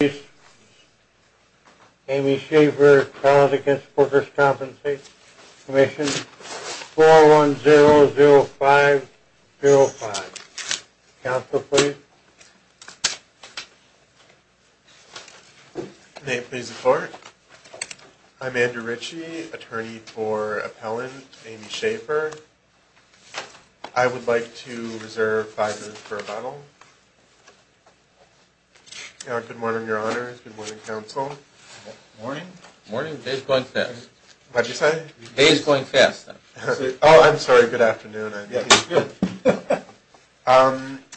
Please. Amy Schafer, College Against Workers' Compensation Commission, 4100505. Counsel, please. Name, please, report. I'm Andrew Ritchie, attorney for appellant Amy Schafer. I would like to reserve five minutes for rebuttal. Good morning, Counsel. Good morning, Your Honor. Good morning, Counsel. Morning. Morning. The day is going fast. What did you say? The day is going fast. Oh, I'm sorry. Good afternoon. Good.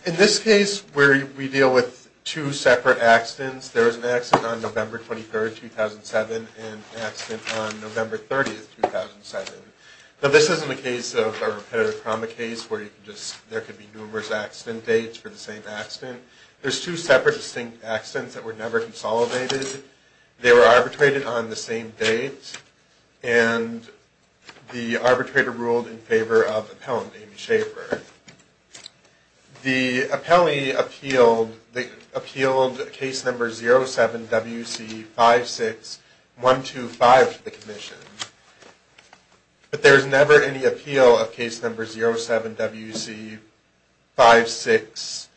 In this case, where we deal with two separate accidents, there was an accident on November 23, 2007, and an accident on November 30, 2007. Now, this isn't a case of a repetitive trauma case where there could be numerous accident dates for the same accident. There's two separate, distinct accidents that were never consolidated. They were arbitrated on the same date, and the arbitrator ruled in favor of appellant Amy Schafer. The appellee appealed case number 07-WC-56125 to the commission, but there was never any appeal of case number 07-WC-56127.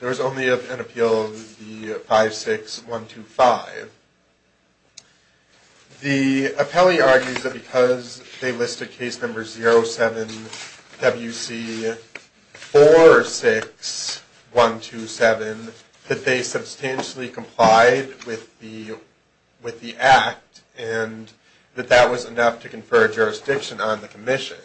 There was only an appeal of the 56125. The appellee argues that because they listed case number 07-WC-46127, that they substantially complied with the act, and that that was enough to confer jurisdiction on the commission.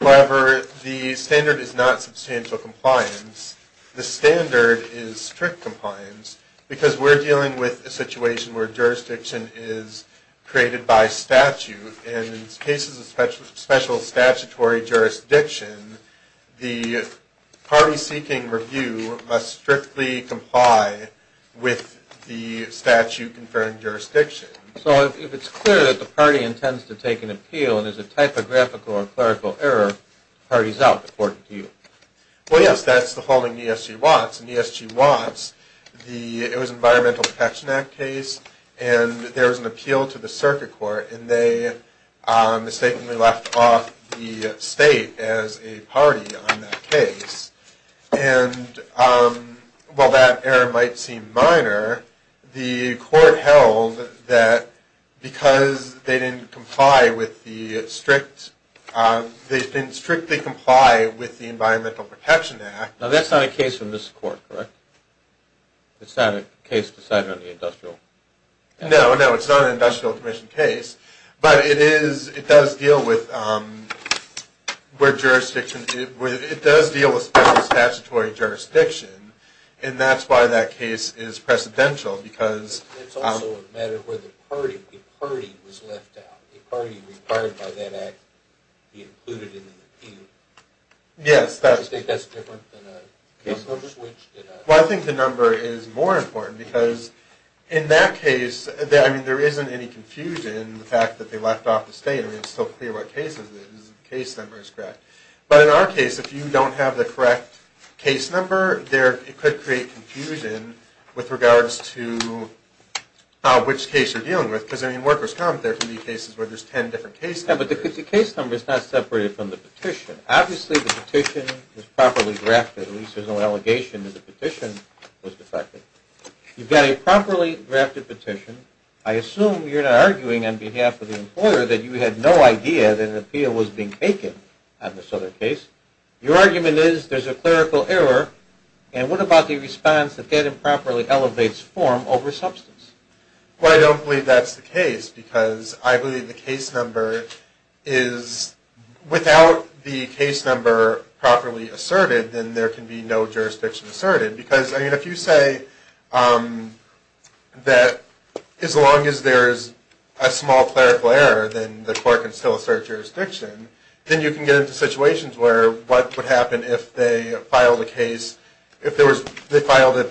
However, the standard is not substantial compliance. The standard is strict compliance, because we're dealing with a situation where jurisdiction is created by statute. And in cases of special statutory jurisdiction, the party seeking review must strictly comply with the statute conferring jurisdiction. So, if it's clear that the party intends to take an appeal, and there's a typographical or clerical error, the party's out before an appeal. Well, yes, that's the holding ESG wants. In the ESG wants, it was an Environmental Protection Act case, and there was an appeal to the circuit court, and they mistakenly left off the state as a party on that case. And while that error might seem minor, the court held that because they didn't comply with the strict, they didn't strictly comply with the Environmental Protection Act. Now, that's not a case from this court, correct? It's not a case decided on the industrial commission? It's not a jurisdiction case, but it does deal with special statutory jurisdiction, and that's why that case is precedential. It's also a matter where the party was left out. The party required by that act to be included in an appeal. Yes. Do you think that's different than a case number switch? Well, I think the number is more important, because in that case, I mean, there isn't any confusion in the fact that they left off the state. I mean, it's still clear what case it is, the case number is correct. But in our case, if you don't have the correct case number, it could create confusion with regards to which case you're dealing with. Because, I mean, workers' comp, there can be cases where there's 10 different case numbers. Yeah, but the case number is not separated from the petition. Obviously, the petition was properly drafted. At least there's no allegation that the petition was defective. You've got a properly drafted petition. I assume you're not arguing on behalf of the employer that you had no idea that an appeal was being taken on this other case. Your argument is there's a clerical error, and what about the response that that improperly elevates form over substance? Well, I don't believe that's the case, because I believe the case number is, without the case number properly asserted, then there can be no jurisdiction asserted. Because, I mean, if you say that as long as there's a small clerical error, then the court can still assert jurisdiction, then you can get into situations where what would happen if they filed a case, if they filed a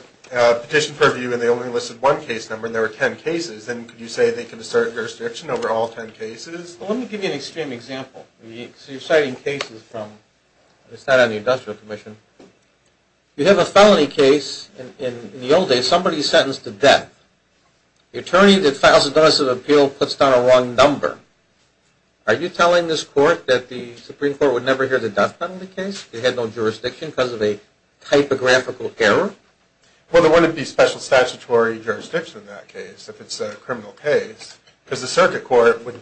petition for review and they only listed one case number and there were 10 cases, then could you say they can assert jurisdiction over all 10 cases? Well, let me give you an extreme example. So you're citing cases from, it's not on the industrial commission. You have a felony case. In the old days, somebody sentenced to death. The attorney that files a domestic appeal puts down a wrong number. Are you telling this court that the Supreme Court would never hear the death penalty case? They had no jurisdiction because of a typographical error? Well, there wouldn't be special statutory jurisdiction in that case, if it's a criminal case. Because the circuit court would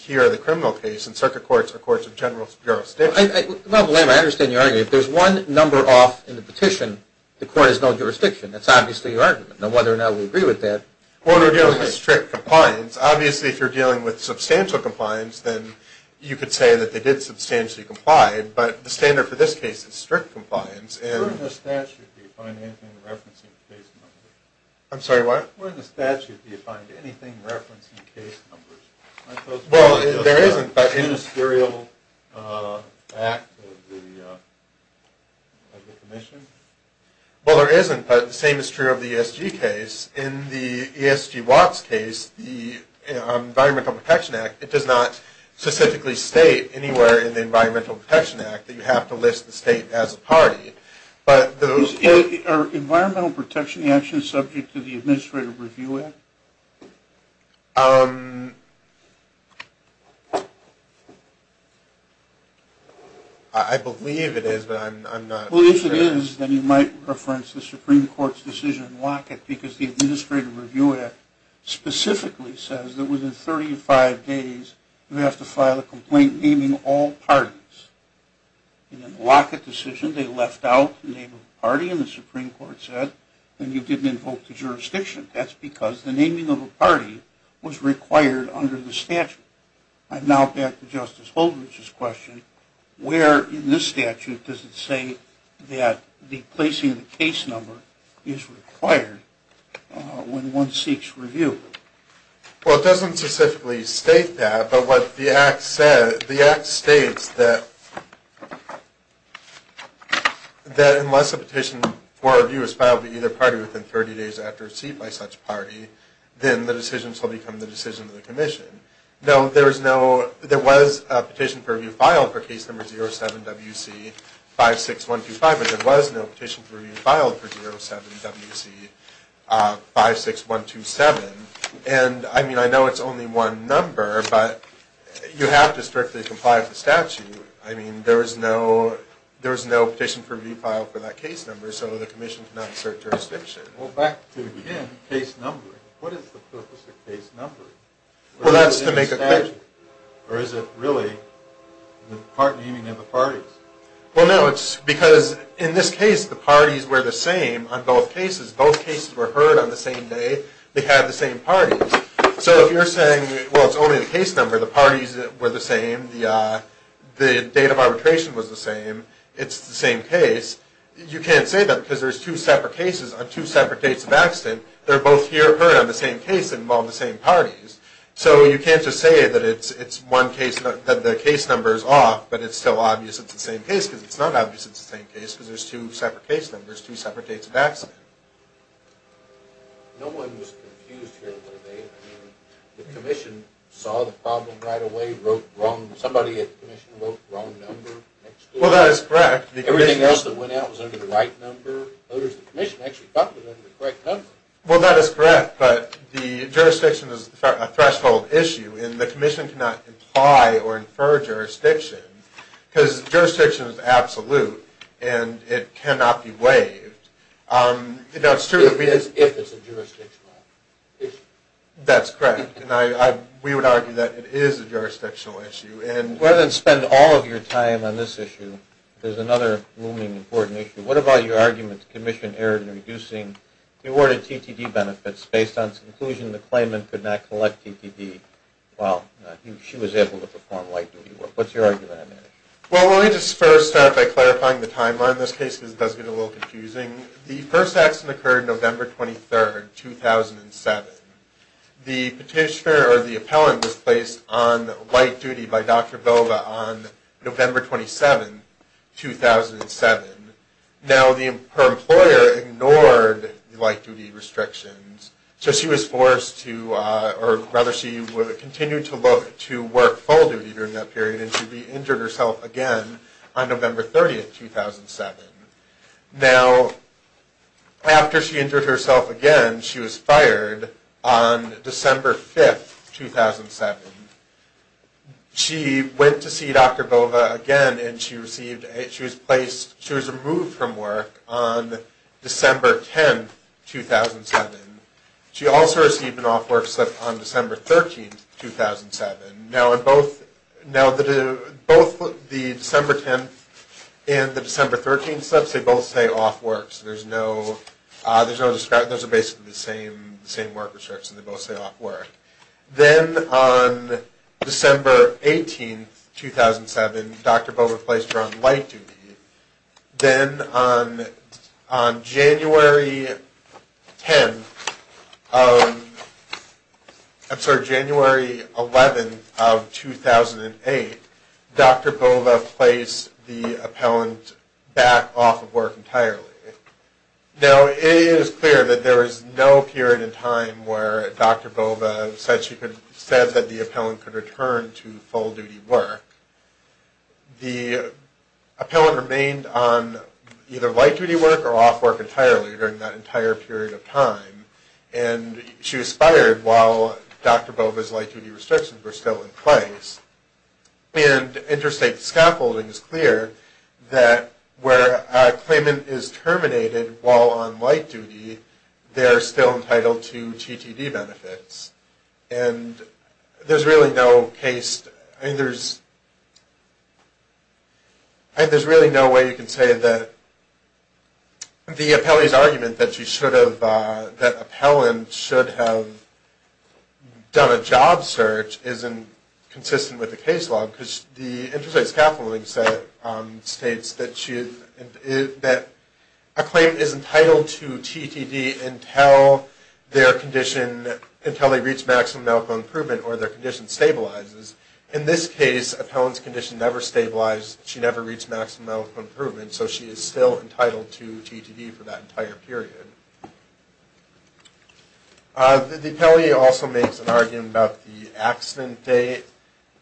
hear the criminal case, and circuit courts are courts of general jurisdiction. Well, I understand your argument. If there's one number off in the petition, the court has no jurisdiction. That's obviously your argument. Now, whether or not we agree with that... Well, we're dealing with strict compliance. Obviously, if you're dealing with substantial compliance, then you could say that they did substantially comply. But the standard for this case is strict compliance. Where in the statute do you find anything referencing case numbers? I'm sorry, what? Where in the statute do you find anything referencing case numbers? Well, there isn't, but... Industrial act of the commission? Well, there isn't, but the same is true of the ESG case. In the ESG Watts case, the Environmental Protection Act, it does not specifically state anywhere in the Environmental Protection Act that you have to list the state as a party. Are Environmental Protection Actions subject to the Administrative Review Act? I believe it is, but I'm not sure. Well, if it is, then you might reference the Supreme Court's decision in Lockett because the Administrative Review Act specifically says that within 35 days you have to file a complaint naming all parties. In the Lockett decision, they left out the name of the party and the Supreme Court said that you didn't invoke the jurisdiction. That's because the naming of a party was required under the statute. I'm now back to Justice Holdren's question. Where in this statute does it say that the placing of the case number is required when one seeks review? Well, it doesn't specifically state that, but what the act states is that unless a petition for review is filed to either party within 30 days after receipt by such party, then the decisions will become the decision of the commission. There was a petition for review filed for case number 07WC56125 and there was no petition for review filed for 07WC56127 and I know it's only one number, but you have to strictly comply with the statute. There is no petition for review filed for that case number so the commission cannot assert jurisdiction. What is the purpose of case numbering? Or is it really the part naming of the parties? Well, no, it's because in this case the parties were the same on both cases. Both cases were heard on the same day. They had the same parties. So if you're saying, well, it's only the case number, the parties were the same, the date of arbitration was the same, it's the same case, you can't say that because there's two separate cases on two separate dates of accident. They're both heard on the same case and involve the same parties. So you can't just say that the case number is off, but it's still obvious it's the same case because it's not obvious it's the same case because there's two separate case numbers, two separate dates of accident. No one was confused here, were they? I mean, the commission saw the problem right away, wrote wrong, somebody at the commission wrote the wrong number. Well, that is correct. Everything else that went out was under the right number. Others at the commission actually talked about it under the correct number. Well, that is correct, but the jurisdiction is a threshold issue and the commission cannot imply or infer jurisdiction because jurisdiction is absolute and it cannot be waived. If it's a jurisdictional issue. That's correct. We would argue that it is a jurisdictional issue. Rather than spend all of your time on this issue, there's another looming important issue. What about your argument that the commission erred in reducing the awarded TTD benefits based on its conclusion that the claimant could not collect TTD while she was able to perform light duty work? Well, let me just first start by clarifying the timeline in this case because it does get a little confusing. The first accident occurred November 23, 2007. The petitioner or the appellant was placed on light duty by Dr. Boga on November 27, 2007. Now, her employer ignored the light duty restrictions, so she was forced to, or rather she continued to work full duty during that period and she injured herself again on November 30, 2007. Now, after she injured herself again, she was fired on December 5, 2007. She went to see Dr. Boga again and she received, she was placed, she was removed from work on December 10, 2007. She also received an off work slip on December 13, 2007. Now, in both, now the, both the December 10 and the December 13 slips, they both say off work, so there's no, there's no, those are basically the same, the same work restrictions. They both say off work. Then on December 18, 2007, Dr. Boga was placed on light duty. Then on, on January 10, I'm sorry, January 11 of 2008, Dr. Boga placed the appellant back off of work entirely. Now, it is clear that there was no period in time where Dr. Boga said she could, said that the appellant could return to full duty work. The appellant remained on either light duty work or off work entirely during that entire period of time. And she was fired while Dr. Boga's light duty restrictions were still in place. And interstate scaffolding is clear that where a claimant is terminated while on light duty, they are still entitled to GTD benefits. And there's really no case, I mean, there's, I think there's really no way you can say that the appellee's argument that she should have, that appellant should have done a job search isn't consistent with the case law because the interstate scaffolding states that she, that a claim is entitled to GTD until their condition, until they reach maximum medical improvement or their condition stabilizes. In this case, appellant's condition never stabilized. She never reached maximum medical improvement, so she is still entitled to GTD for that entire period. The appellee also makes an argument about the accident date,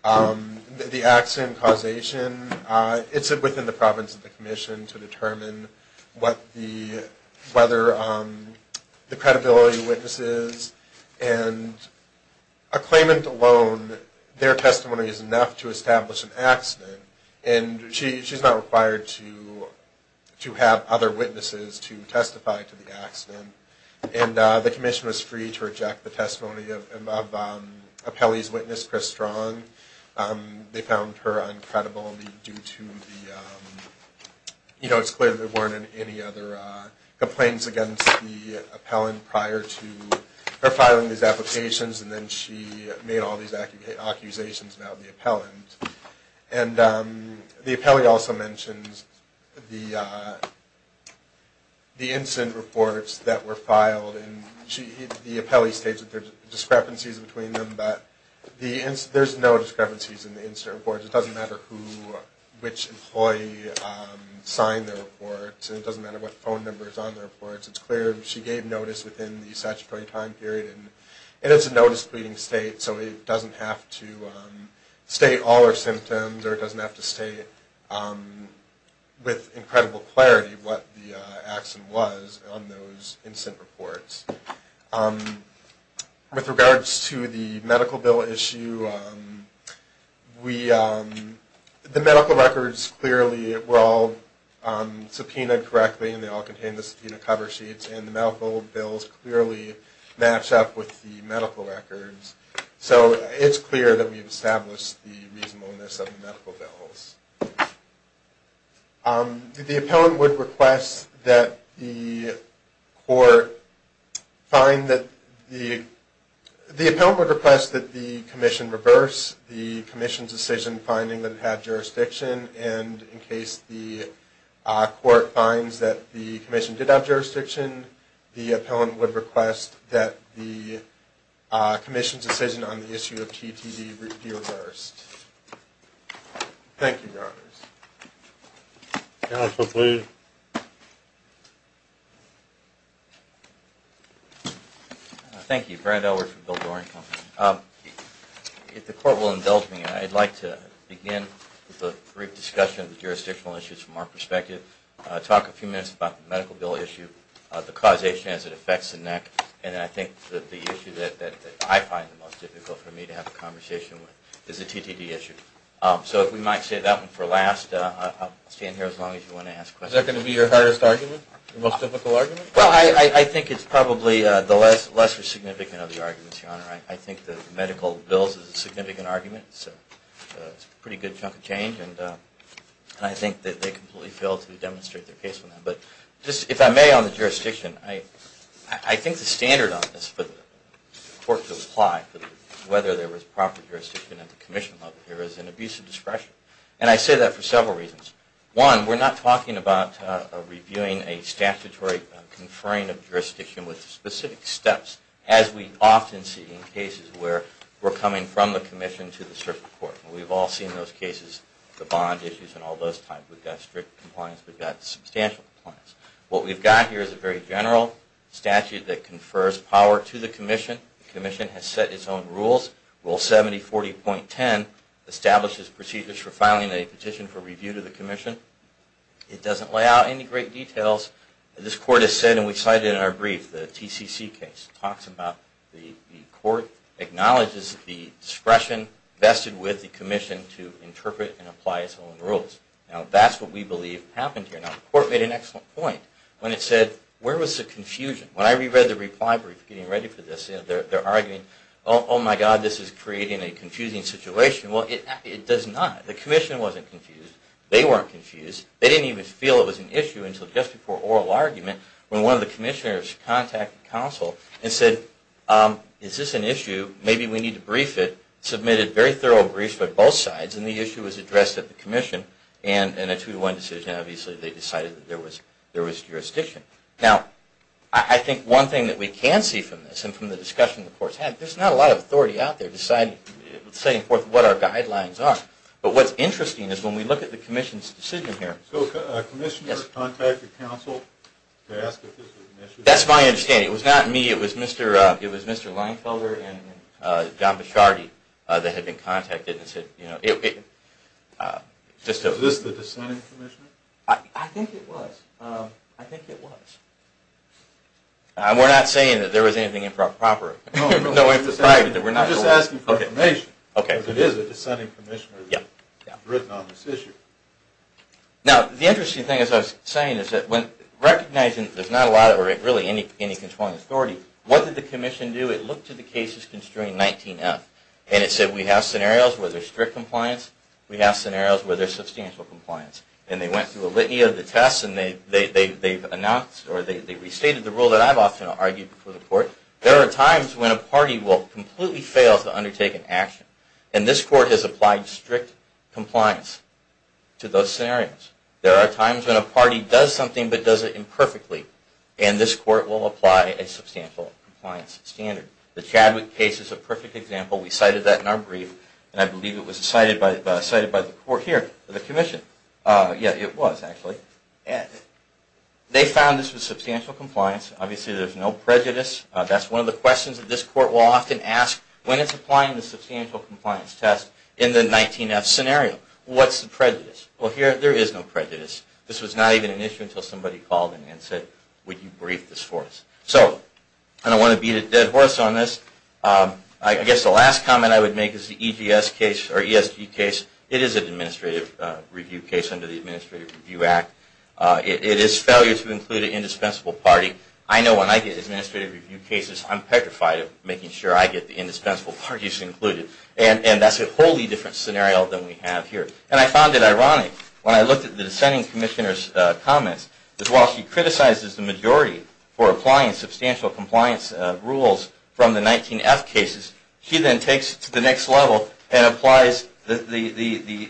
the accident causation. It's within the province of the commission to determine what the, whether the credibility of witnesses and a claimant alone, their testimony is enough to and she's not required to have other witnesses to testify to the accident. And the commission was free to reject the testimony of appellee's witness, Chris Strong. They found her uncredible due to the, you know, it's clear there weren't any other complaints against the appellant prior to her filing these applications and then she made all these accusations about the appellant. And the appellee also mentions the incident reports that were filed and the appellee states that there's discrepancies between them, but there's no discrepancies in the incident reports. It doesn't matter who, which employee signed the reports. It doesn't matter what phone number is on the reports. It's clear she gave notice within the statutory time period and it's a notice pleading state, so it doesn't have to state all her symptoms or it doesn't have to state with incredible clarity what the accident was on those incident reports. With regards to the medical bill issue, we, the medical records clearly were all subpoenaed correctly and they all contained the subpoena cover sheets and the medical bills clearly match up with the medical records. So it's clear that we've established the reasonableness of the medical bills. The appellant would request that the court find that the, the appellant would request that the commission reverse the commission's decision finding that it had jurisdiction and in case the court finds that the commission did have jurisdiction, the appellant would request that the commission's decision on the issue of GTD be reversed. Thank you, Your Honors. Counsel, please. Thank you. If the court will indulge me, I'd like to begin with a brief discussion of the jurisdictional issues from our perspective, talk a few minutes about the medical bill issue, the causation as it the issue that I find the most difficult for me to have a conversation with is the GTD issue. So if we might save that one for last, I'll stand here as long as you want to ask questions. Is that going to be your hardest argument? Your most difficult argument? Well, I think it's probably the lesser significant of the arguments, Your Honor. I think the medical bills is a significant argument. It's a pretty good chunk of change and I think that they completely failed to demonstrate their case on that. But just, if I may, on the jurisdiction, I think the standard on this for the court to apply whether there was proper jurisdiction at the commission level here is an abuse of discretion. And I say that for several reasons. One, we're not talking about reviewing a statutory conferring of jurisdiction with specific steps as we often see in cases where we're coming from the commission to the circuit court. We've all seen those cases, the bond issues and all those types. We've got strict compliance, we've got substantial compliance. What we've got here is a very general statute that confers power to the commission. The commission has set its own rules. Rule 7040.10 establishes procedures for filing a petition for review to the commission. It doesn't lay out any great details. This court has said, and we cited it in our brief, the TCC case talks about the court acknowledges the discretion vested with the commission to interpret and apply its own rules. Now that's what we believe happened here. Now the court made an excellent point when it said, where was the confusion? When I reread the reply brief, getting ready for this, they're arguing, oh my god, this is creating a confusing situation. Well, it does not. The commission wasn't confused. They weren't confused. They didn't even feel it was an issue until just before oral argument when one of the commissioners contacted counsel and said, is this an issue? Maybe we need to brief it. Submitted very thorough briefs by both sides and the issue was addressed at the commission and in a two to one decision, obviously, they decided that there was jurisdiction. Now, I think one thing that we can see from this and from the discussion the court's had, there's not a lot of authority out there deciding what our guidelines are. But what's interesting is when we look at the commission's decision here. So a commissioner contacted counsel to ask if this was an issue? That's my understanding. It was not me. It was Mr. Leinfelder and John Bichardi that had been contacted and said, is this the dissenting commissioner? I think it was. We're not saying that there was anything improper. I'm just asking for information. If it is a dissenting commissioner written on this issue. Now, the interesting thing, as I was saying, is that when recognizing that there's not a lot or really any controlling authority, what did the commission do? It looked at the cases concerning 19F and it said, we have scenarios where there's strict compliance. We have scenarios where there's substantial compliance. And they went through a litany of the tests and they announced or they restated the rule that I've often argued before the court. There are times when a party will completely fail to undertake an action and this court has applied strict compliance to those scenarios. There are times when a party does something but does it imperfectly and this court will apply a substantial compliance standard. The Chadwick case is a perfect example. We cited that in our brief and I believe it was cited by the commission. They found this was substantial compliance. Obviously, there's no prejudice. That's one of the questions that this court will often ask when it's applying the substantial compliance test in the 19F scenario. What's the prejudice? Well, here there is no prejudice. This was not even an issue until somebody called in and said, would you brief this for us? So, I don't want to beat a dead horse on this. I guess the last comment I would make is the EGS case or ESG case. It is an administrative review case under the Administrative Review Act. It is failure to include an indispensable party. I know when I get administrative review cases, I'm petrified of making sure I get the indispensable parties included. And that's a wholly different scenario than we have here. And I found it ironic when I looked at the dissenting commissioner's comments, that while he applies the substantial compliance rules from the 19F cases, he then takes it to the next level and applies the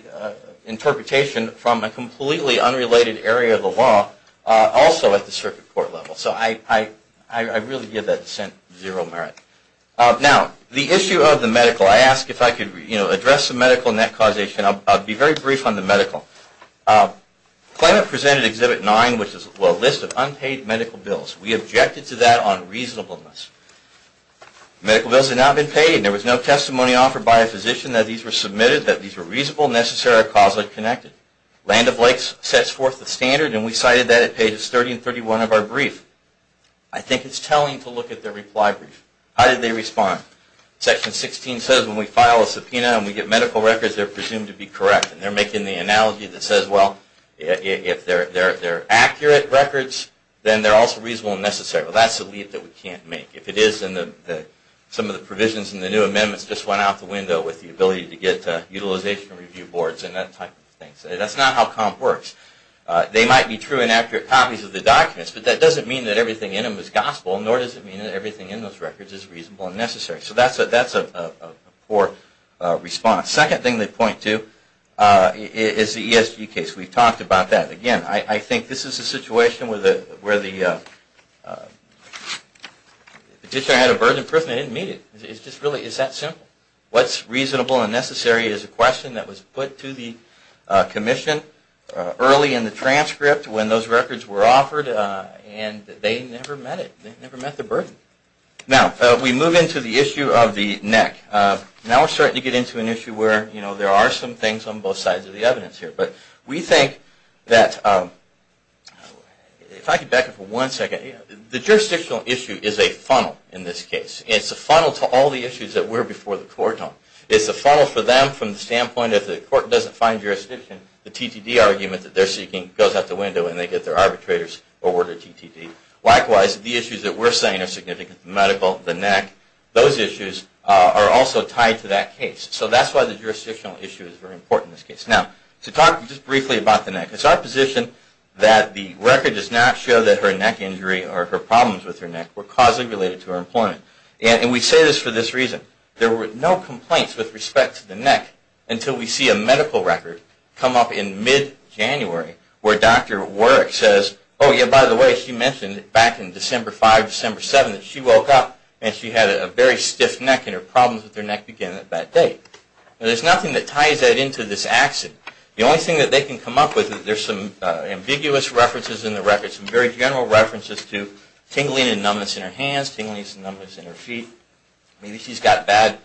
interpretation from a completely unrelated area of the law also at the circuit court level. So, I really give that dissent zero merit. Now, the issue of the medical. I asked if I could address the medical net causation. I'll be very brief on the medical. Climate presented Exhibit 9, which is a list of medical bills, and we cited that on reasonableness. Medical bills have not been paid, and there was no testimony offered by a physician that these were submitted, that these were reasonable, necessary, or causally connected. Land of Lakes sets forth the standard, and we cited that at pages 30 and 31 of our brief. I think it's telling to look at their reply brief. How did they respond? Section 16 says when we file a subpoena and we get medical records, they're presumed to be correct. And they're making the analogy that says, well, if they're correct, then there's a leap that we can't make. If it is, then some of the provisions in the new amendments just went out the window with the ability to get utilization review boards and that type of thing. That's not how comp works. They might be true and accurate copies of the documents, but that doesn't mean that everything in them is gospel, nor does it mean that everything in those records is reasonable and necessary. So, that's a poor response. Second thing they point to is the ESG case. We've talked about that. Again, I think this is a situation where the petitioner had a burden of proof and they didn't meet it. It's that simple. What's reasonable and necessary is a question that was put to the commission early in the transcript when those records were offered, and they never met it. They never met the burden. Now, we move into the issue of the NEC. Now we're starting to get into an issue where there are some things on both sides of the evidence here, but we think that the jurisdictional issue is a funnel in this case. It's a funnel to all the issues that were before the court. It's a funnel for them from the standpoint that if the court doesn't find jurisdiction, the TTD argument that they're seeking goes out the window and they get their arbitrators awarded TTD. Likewise, the issues that we're saying are significant medical, the NEC, those issues are also tied to that case. So, that's why the jurisdictional issue is very important in this case. Now, to talk just briefly about the NEC. It's our position that the record does not show that her neck injury or her problems with her neck were causally related to her employment. And we say this for this reason. There were no complaints with respect to the NEC until we see a medical record come up in mid-January where Dr. Warrick says, oh yeah, by the way, she mentioned back in December 5, December 7 that she woke up and she had a very stiff neck and her problems with her neck began at that date. Now, there's nothing that ties that into this accident. The only thing that they can come up with is there's some ambiguous references in the record, some very general references to tingling and numbness in her hands, tingling and numbness in her feet. Maybe she's got bad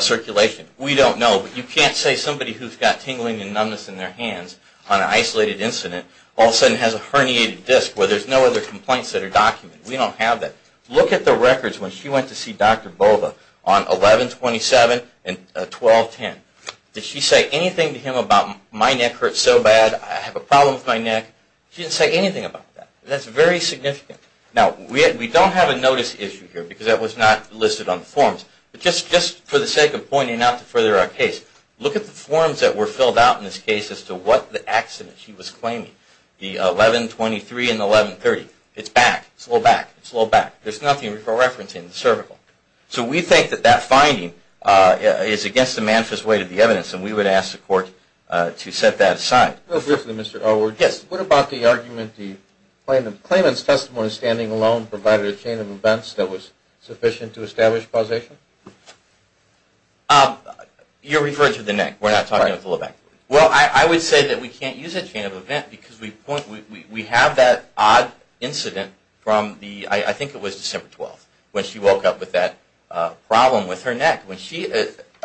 circulation. We don't know, but you can't say somebody who's got tingling and numbness in their hands on an isolated incident all of a sudden has a herniated disc where there's no other complaints that are documented. We don't have that. Look at the records when she went to see Dr. Bova on 11-27 and 12-10. Did she say anything to him about my neck hurts so bad, I have a problem with my neck? She didn't say anything about that. That's very significant. Now, we don't have a notice issue here because that was not listed on the forms, but just for the sake of pointing out to further our case, look at the forms that were filled out in this case as to what accident she was claiming, the 11-23 and the 11-30. It's back, it's a little back, it's a little back. There's nothing for reference in the cervical. So we think that that finding is against the manifest way of the evidence and we would ask the court to set that aside. Real briefly, Mr. Elwood. Yes. What about the argument the claimant's testimony standing alone provided a chain of events that was sufficient to establish causation? You're referring to the neck. We're not talking about the low back. Well, I would say that we can't use a chain of event because we point, we have that odd incident from the, I think it was December 12th, when she woke up with that problem with her neck. When she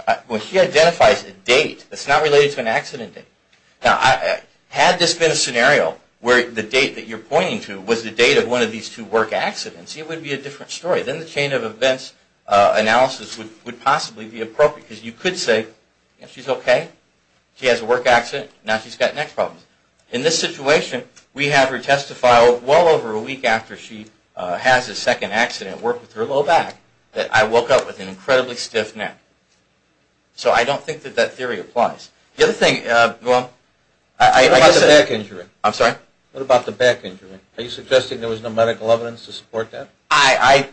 identifies a date that's not related to an accident date. Now, had this been a scenario where the date that you're pointing to was the date of one of these two work accidents, it would be a different story. Then the chain of events analysis would possibly be appropriate because you could say she's okay, she has a work accident, now she's got neck problems. In this situation, we have her testify well over a week after she has a second accident, worked with her low back, that I woke up with an incredibly stiff neck. So, I don't think that that theory applies. The other thing, well, I guess... What about the back injury? I'm sorry? What about the back injury? Are you suggesting there was no medical evidence to support that? I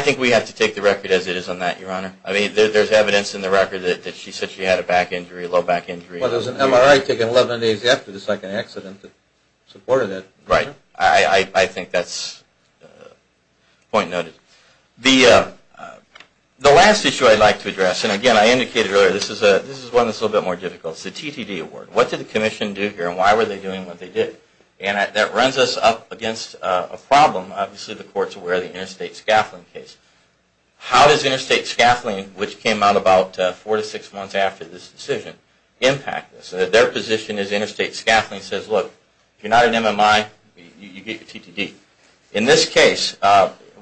think we have to take the record as it is on that, Your Honor. I mean, there's evidence in the record that she said she had a back injury, a low back injury. Well, there's an MRI taken 11 days after the second accident that supported it. Right. I think that's point noted. The last issue I'd like to address, and again, I indicated earlier, this is one that's a little bit more difficult. It's the TTD award. What did the Commission do here and why were they doing what they did? And that runs us up against a problem. Obviously, the Court's aware of the interstate scaffolding case. How does interstate scaffolding, which came out about four to six months after this decision, impact this? Their position is interstate scaffolding says, look, if you're not an MMI, you get your TTD. In this case,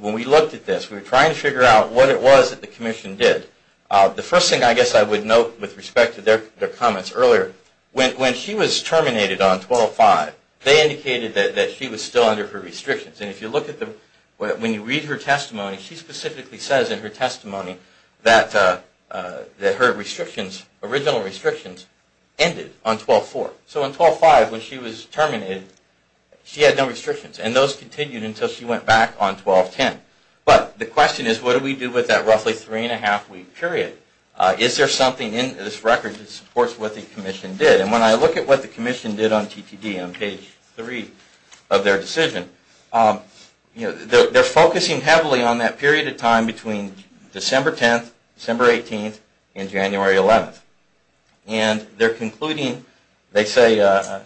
when we looked at this, we were trying to figure out what it was that the Commission did. The first thing I guess I would note with respect to their comments earlier, when she was terminated on 1205, they indicated that she was still under her restrictions. And if you look at the... When you read her testimony, she specifically says in her testimony that her restrictions, original restrictions, ended on 1204. So on 1205, when she was terminated, she had no restrictions. And those continued until she went back on 1210. But the question is, what do we do with that roughly three and a half week period? Is there something in this record that supports what the Commission did? And when I look at what the Commission did on TTD on page three of their decision, they're focusing heavily on that period of time between December 10th, December 18th, and January 11th. And they're concluding they say... Let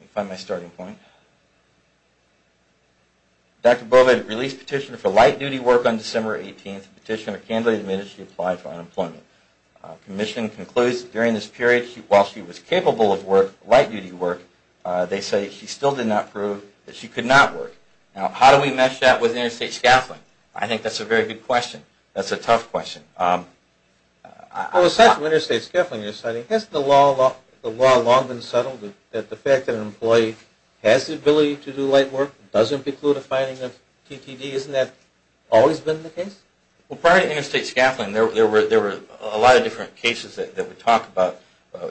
me find my starting point... Dr. Boved released a petition for light duty work on December 18th. The petitioner candidly admitted she applied for unemployment. The Commission concludes during this period, while she was capable of work, light duty work, they say she still did not prove that she could not work. Now, how do we mesh that with interstate scaffolding? I think that's a very good question. That's a tough question. Well, aside from interstate scaffolding you're citing, has the law long been settled that the fact that an employee has the ability to do light work doesn't preclude a finding of TTD? Isn't that always been the case? Well, prior to interstate scaffolding, there were a lot of different cases that we talk about.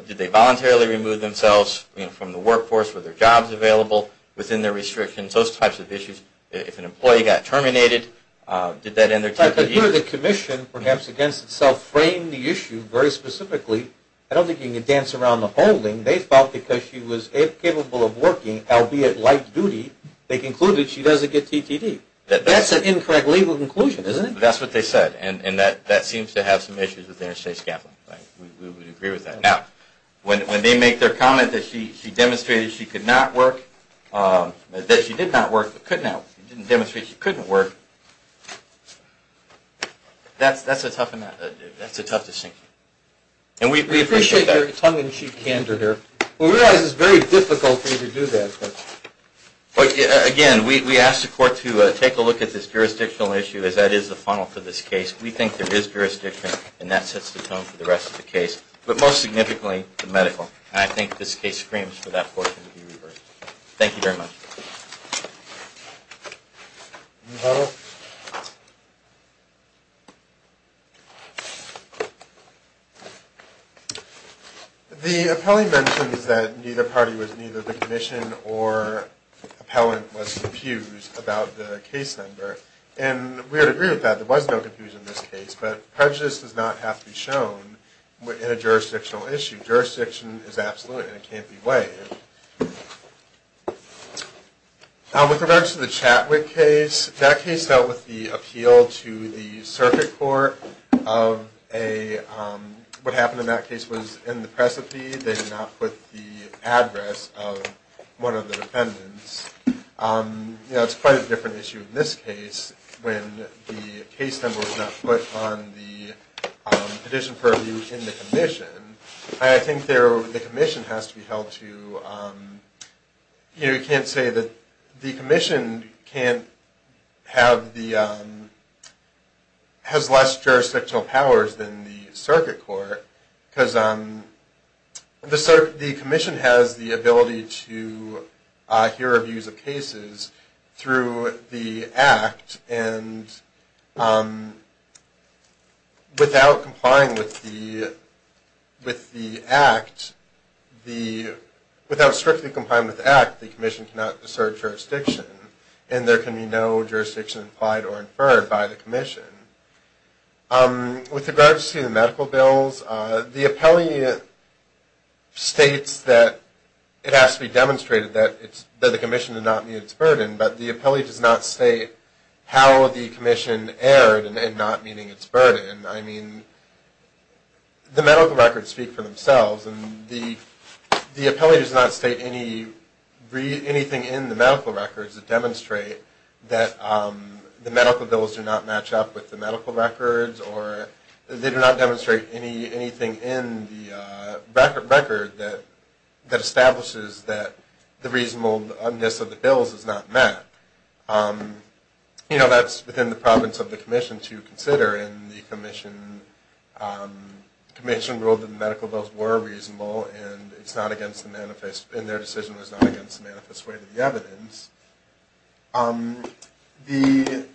Did they voluntarily remove themselves from the workforce? Were there jobs available within their restrictions? Those types of issues. If an employee got terminated, did that end their TTD? But here the Commission, perhaps against itself, framed the issue very specifically. I don't think you can dance around the holding. They felt because she was incapable of working, albeit light duty, they concluded she doesn't get TTD. That's an incorrect legal conclusion, isn't it? That's what they said, and that seems to have some issues with interstate scaffolding. We would agree with that. Now, when they make their comment that she demonstrated she could not work, that she did not work, but couldn't demonstrate she couldn't work, that's a tough distinction. We appreciate your tongue-in-cheek candor there. We realize it's very difficult for you to do that. Again, we ask the Court to take a look at this jurisdictional issue as that is the funnel for this case. We think there is jurisdiction and that sets the tone for the rest of the case. But most significantly, the medical. I think this case screams for that portion to be reversed. Thank you very much. No. The appellee mentions that neither party was neither the clinician or appellant was confused about the case number. And we would agree with that. There was no confusion in this case, but prejudice does not have to be shown in a jurisdictional issue. Jurisdiction is absolute and it can't be weighed. With regards to the Chatwick case, that case dealt with the appeal to the circuit court of a, what happened in that case was in the precipice. They did not put the address of one of the defendants. It's quite a different issue in this case when the case number was not put on the petition purview in the commission. I think the commission has to be held to, you know, you can't say that the commission can't have the has less jurisdictional powers than the circuit court because the commission has the ability to hear reviews of cases through the act and without complying with the without strictly complying with the act the commission cannot assert jurisdiction and there can be no jurisdiction implied or inferred by the commission. With regards to the medical bills, the appellee states that it has to be demonstrated that the commission did not meet its burden, but the appellee does not state how the commission erred in not meeting its burden. I mean the medical records speak for themselves and the appellee does not state anything in the medical records that demonstrate that the medical bills do not match up with the medical records or they do not demonstrate anything in the record that establishes that the reasonableness of the bills is not met. You know, that's within the province of the commission to consider and the commission ruled that the medical bills were reasonable and their decision was not against the manifest way to the evidence. The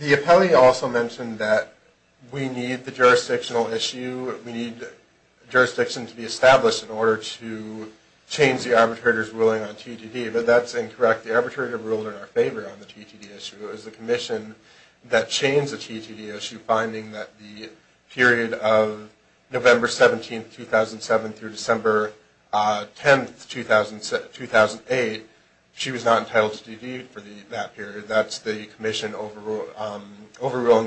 appellee also mentioned that we need the jurisdictional issue, we need jurisdiction to be established in order to change the arbitrator's ruling on TTD, but that's incorrect. The arbitrator ruled in our favor on the TTD issue. It was the commission that changed the TTD issue, finding that the period of November 17, 2007 through December 10, 2008, she was not entitled to TD for that period. That's the commission overruling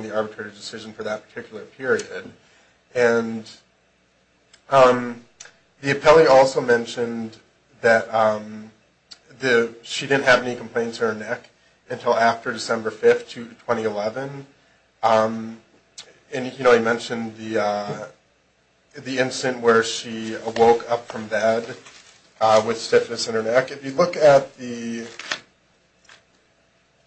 the arbitrator's decision for that particular period. The appellee also mentioned that she didn't have any complaints to her neck until after December 5, 2011. And you know, he mentioned the instant where she woke up from bed with stiffness in her neck. If you look at the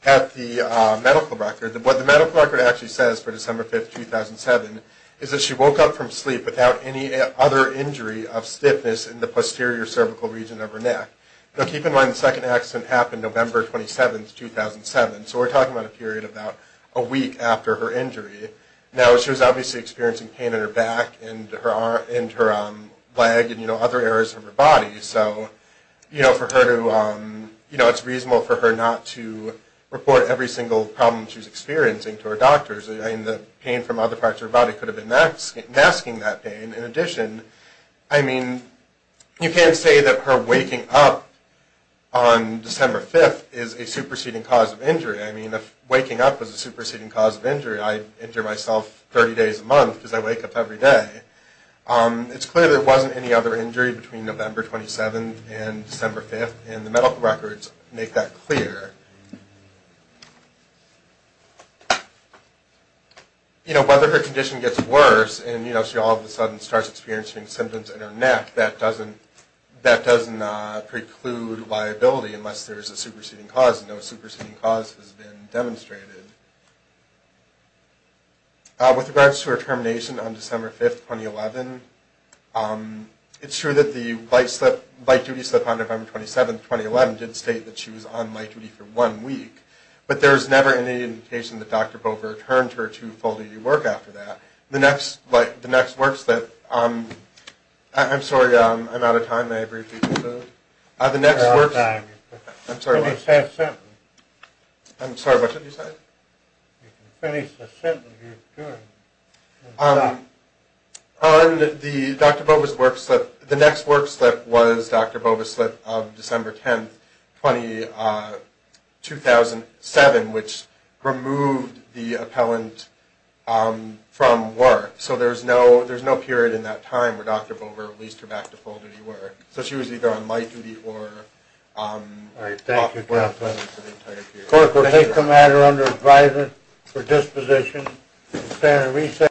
medical record, what the medical record actually says for December 5, 2007 is that she woke up from sleep without any other injury of stiffness in the posterior cervical region of her neck. Now keep in mind the second accident happened November 27, 2007, so we're talking about a period of about a week after her injury. Now she was obviously experiencing pain in her back and her leg and other areas of her body, so it's reasonable for her not to report every single problem she was experiencing to her doctors. The pain from other parts of her body could have been masking that pain. In addition, I mean, you can't say that her waking up on December 5th is a superseding cause of injury. I mean, if waking up was a superseding cause of injury, I'd injure myself 30 days a month because I wake up every day. It's clear there wasn't any other injury between November 27th and December 5th and the medical records make that clear. You know, whether her condition gets worse and, you know, she all of a sudden starts experiencing symptoms in her neck, that doesn't preclude liability unless there's a superseding cause. No superseding cause has been demonstrated. With regards to her termination on December 5th, 2011, it's true that the light duty slip on November 27th, 2011 did state that she was on light duty for one week, but there was never any indication that Dr. Bover returned her to full-day work after that. The next work slip, I'm sorry, I'm out of time. May I briefly conclude? You're out of time. You can finish that sentence. I'm sorry, what did you say? You can finish the sentence you're doing. On the Dr. Bover's work slip, the next work slip was Dr. Bover's slip of December 10th, 2007, which removed the appellant from work. So there's no period in that time where Dr. Bover released her back to full-day work. So she was either on light duty or... Alright, thank you, Jeff. Clerk, we'll take the matter under advisement. For disposition, we'll stand and reset.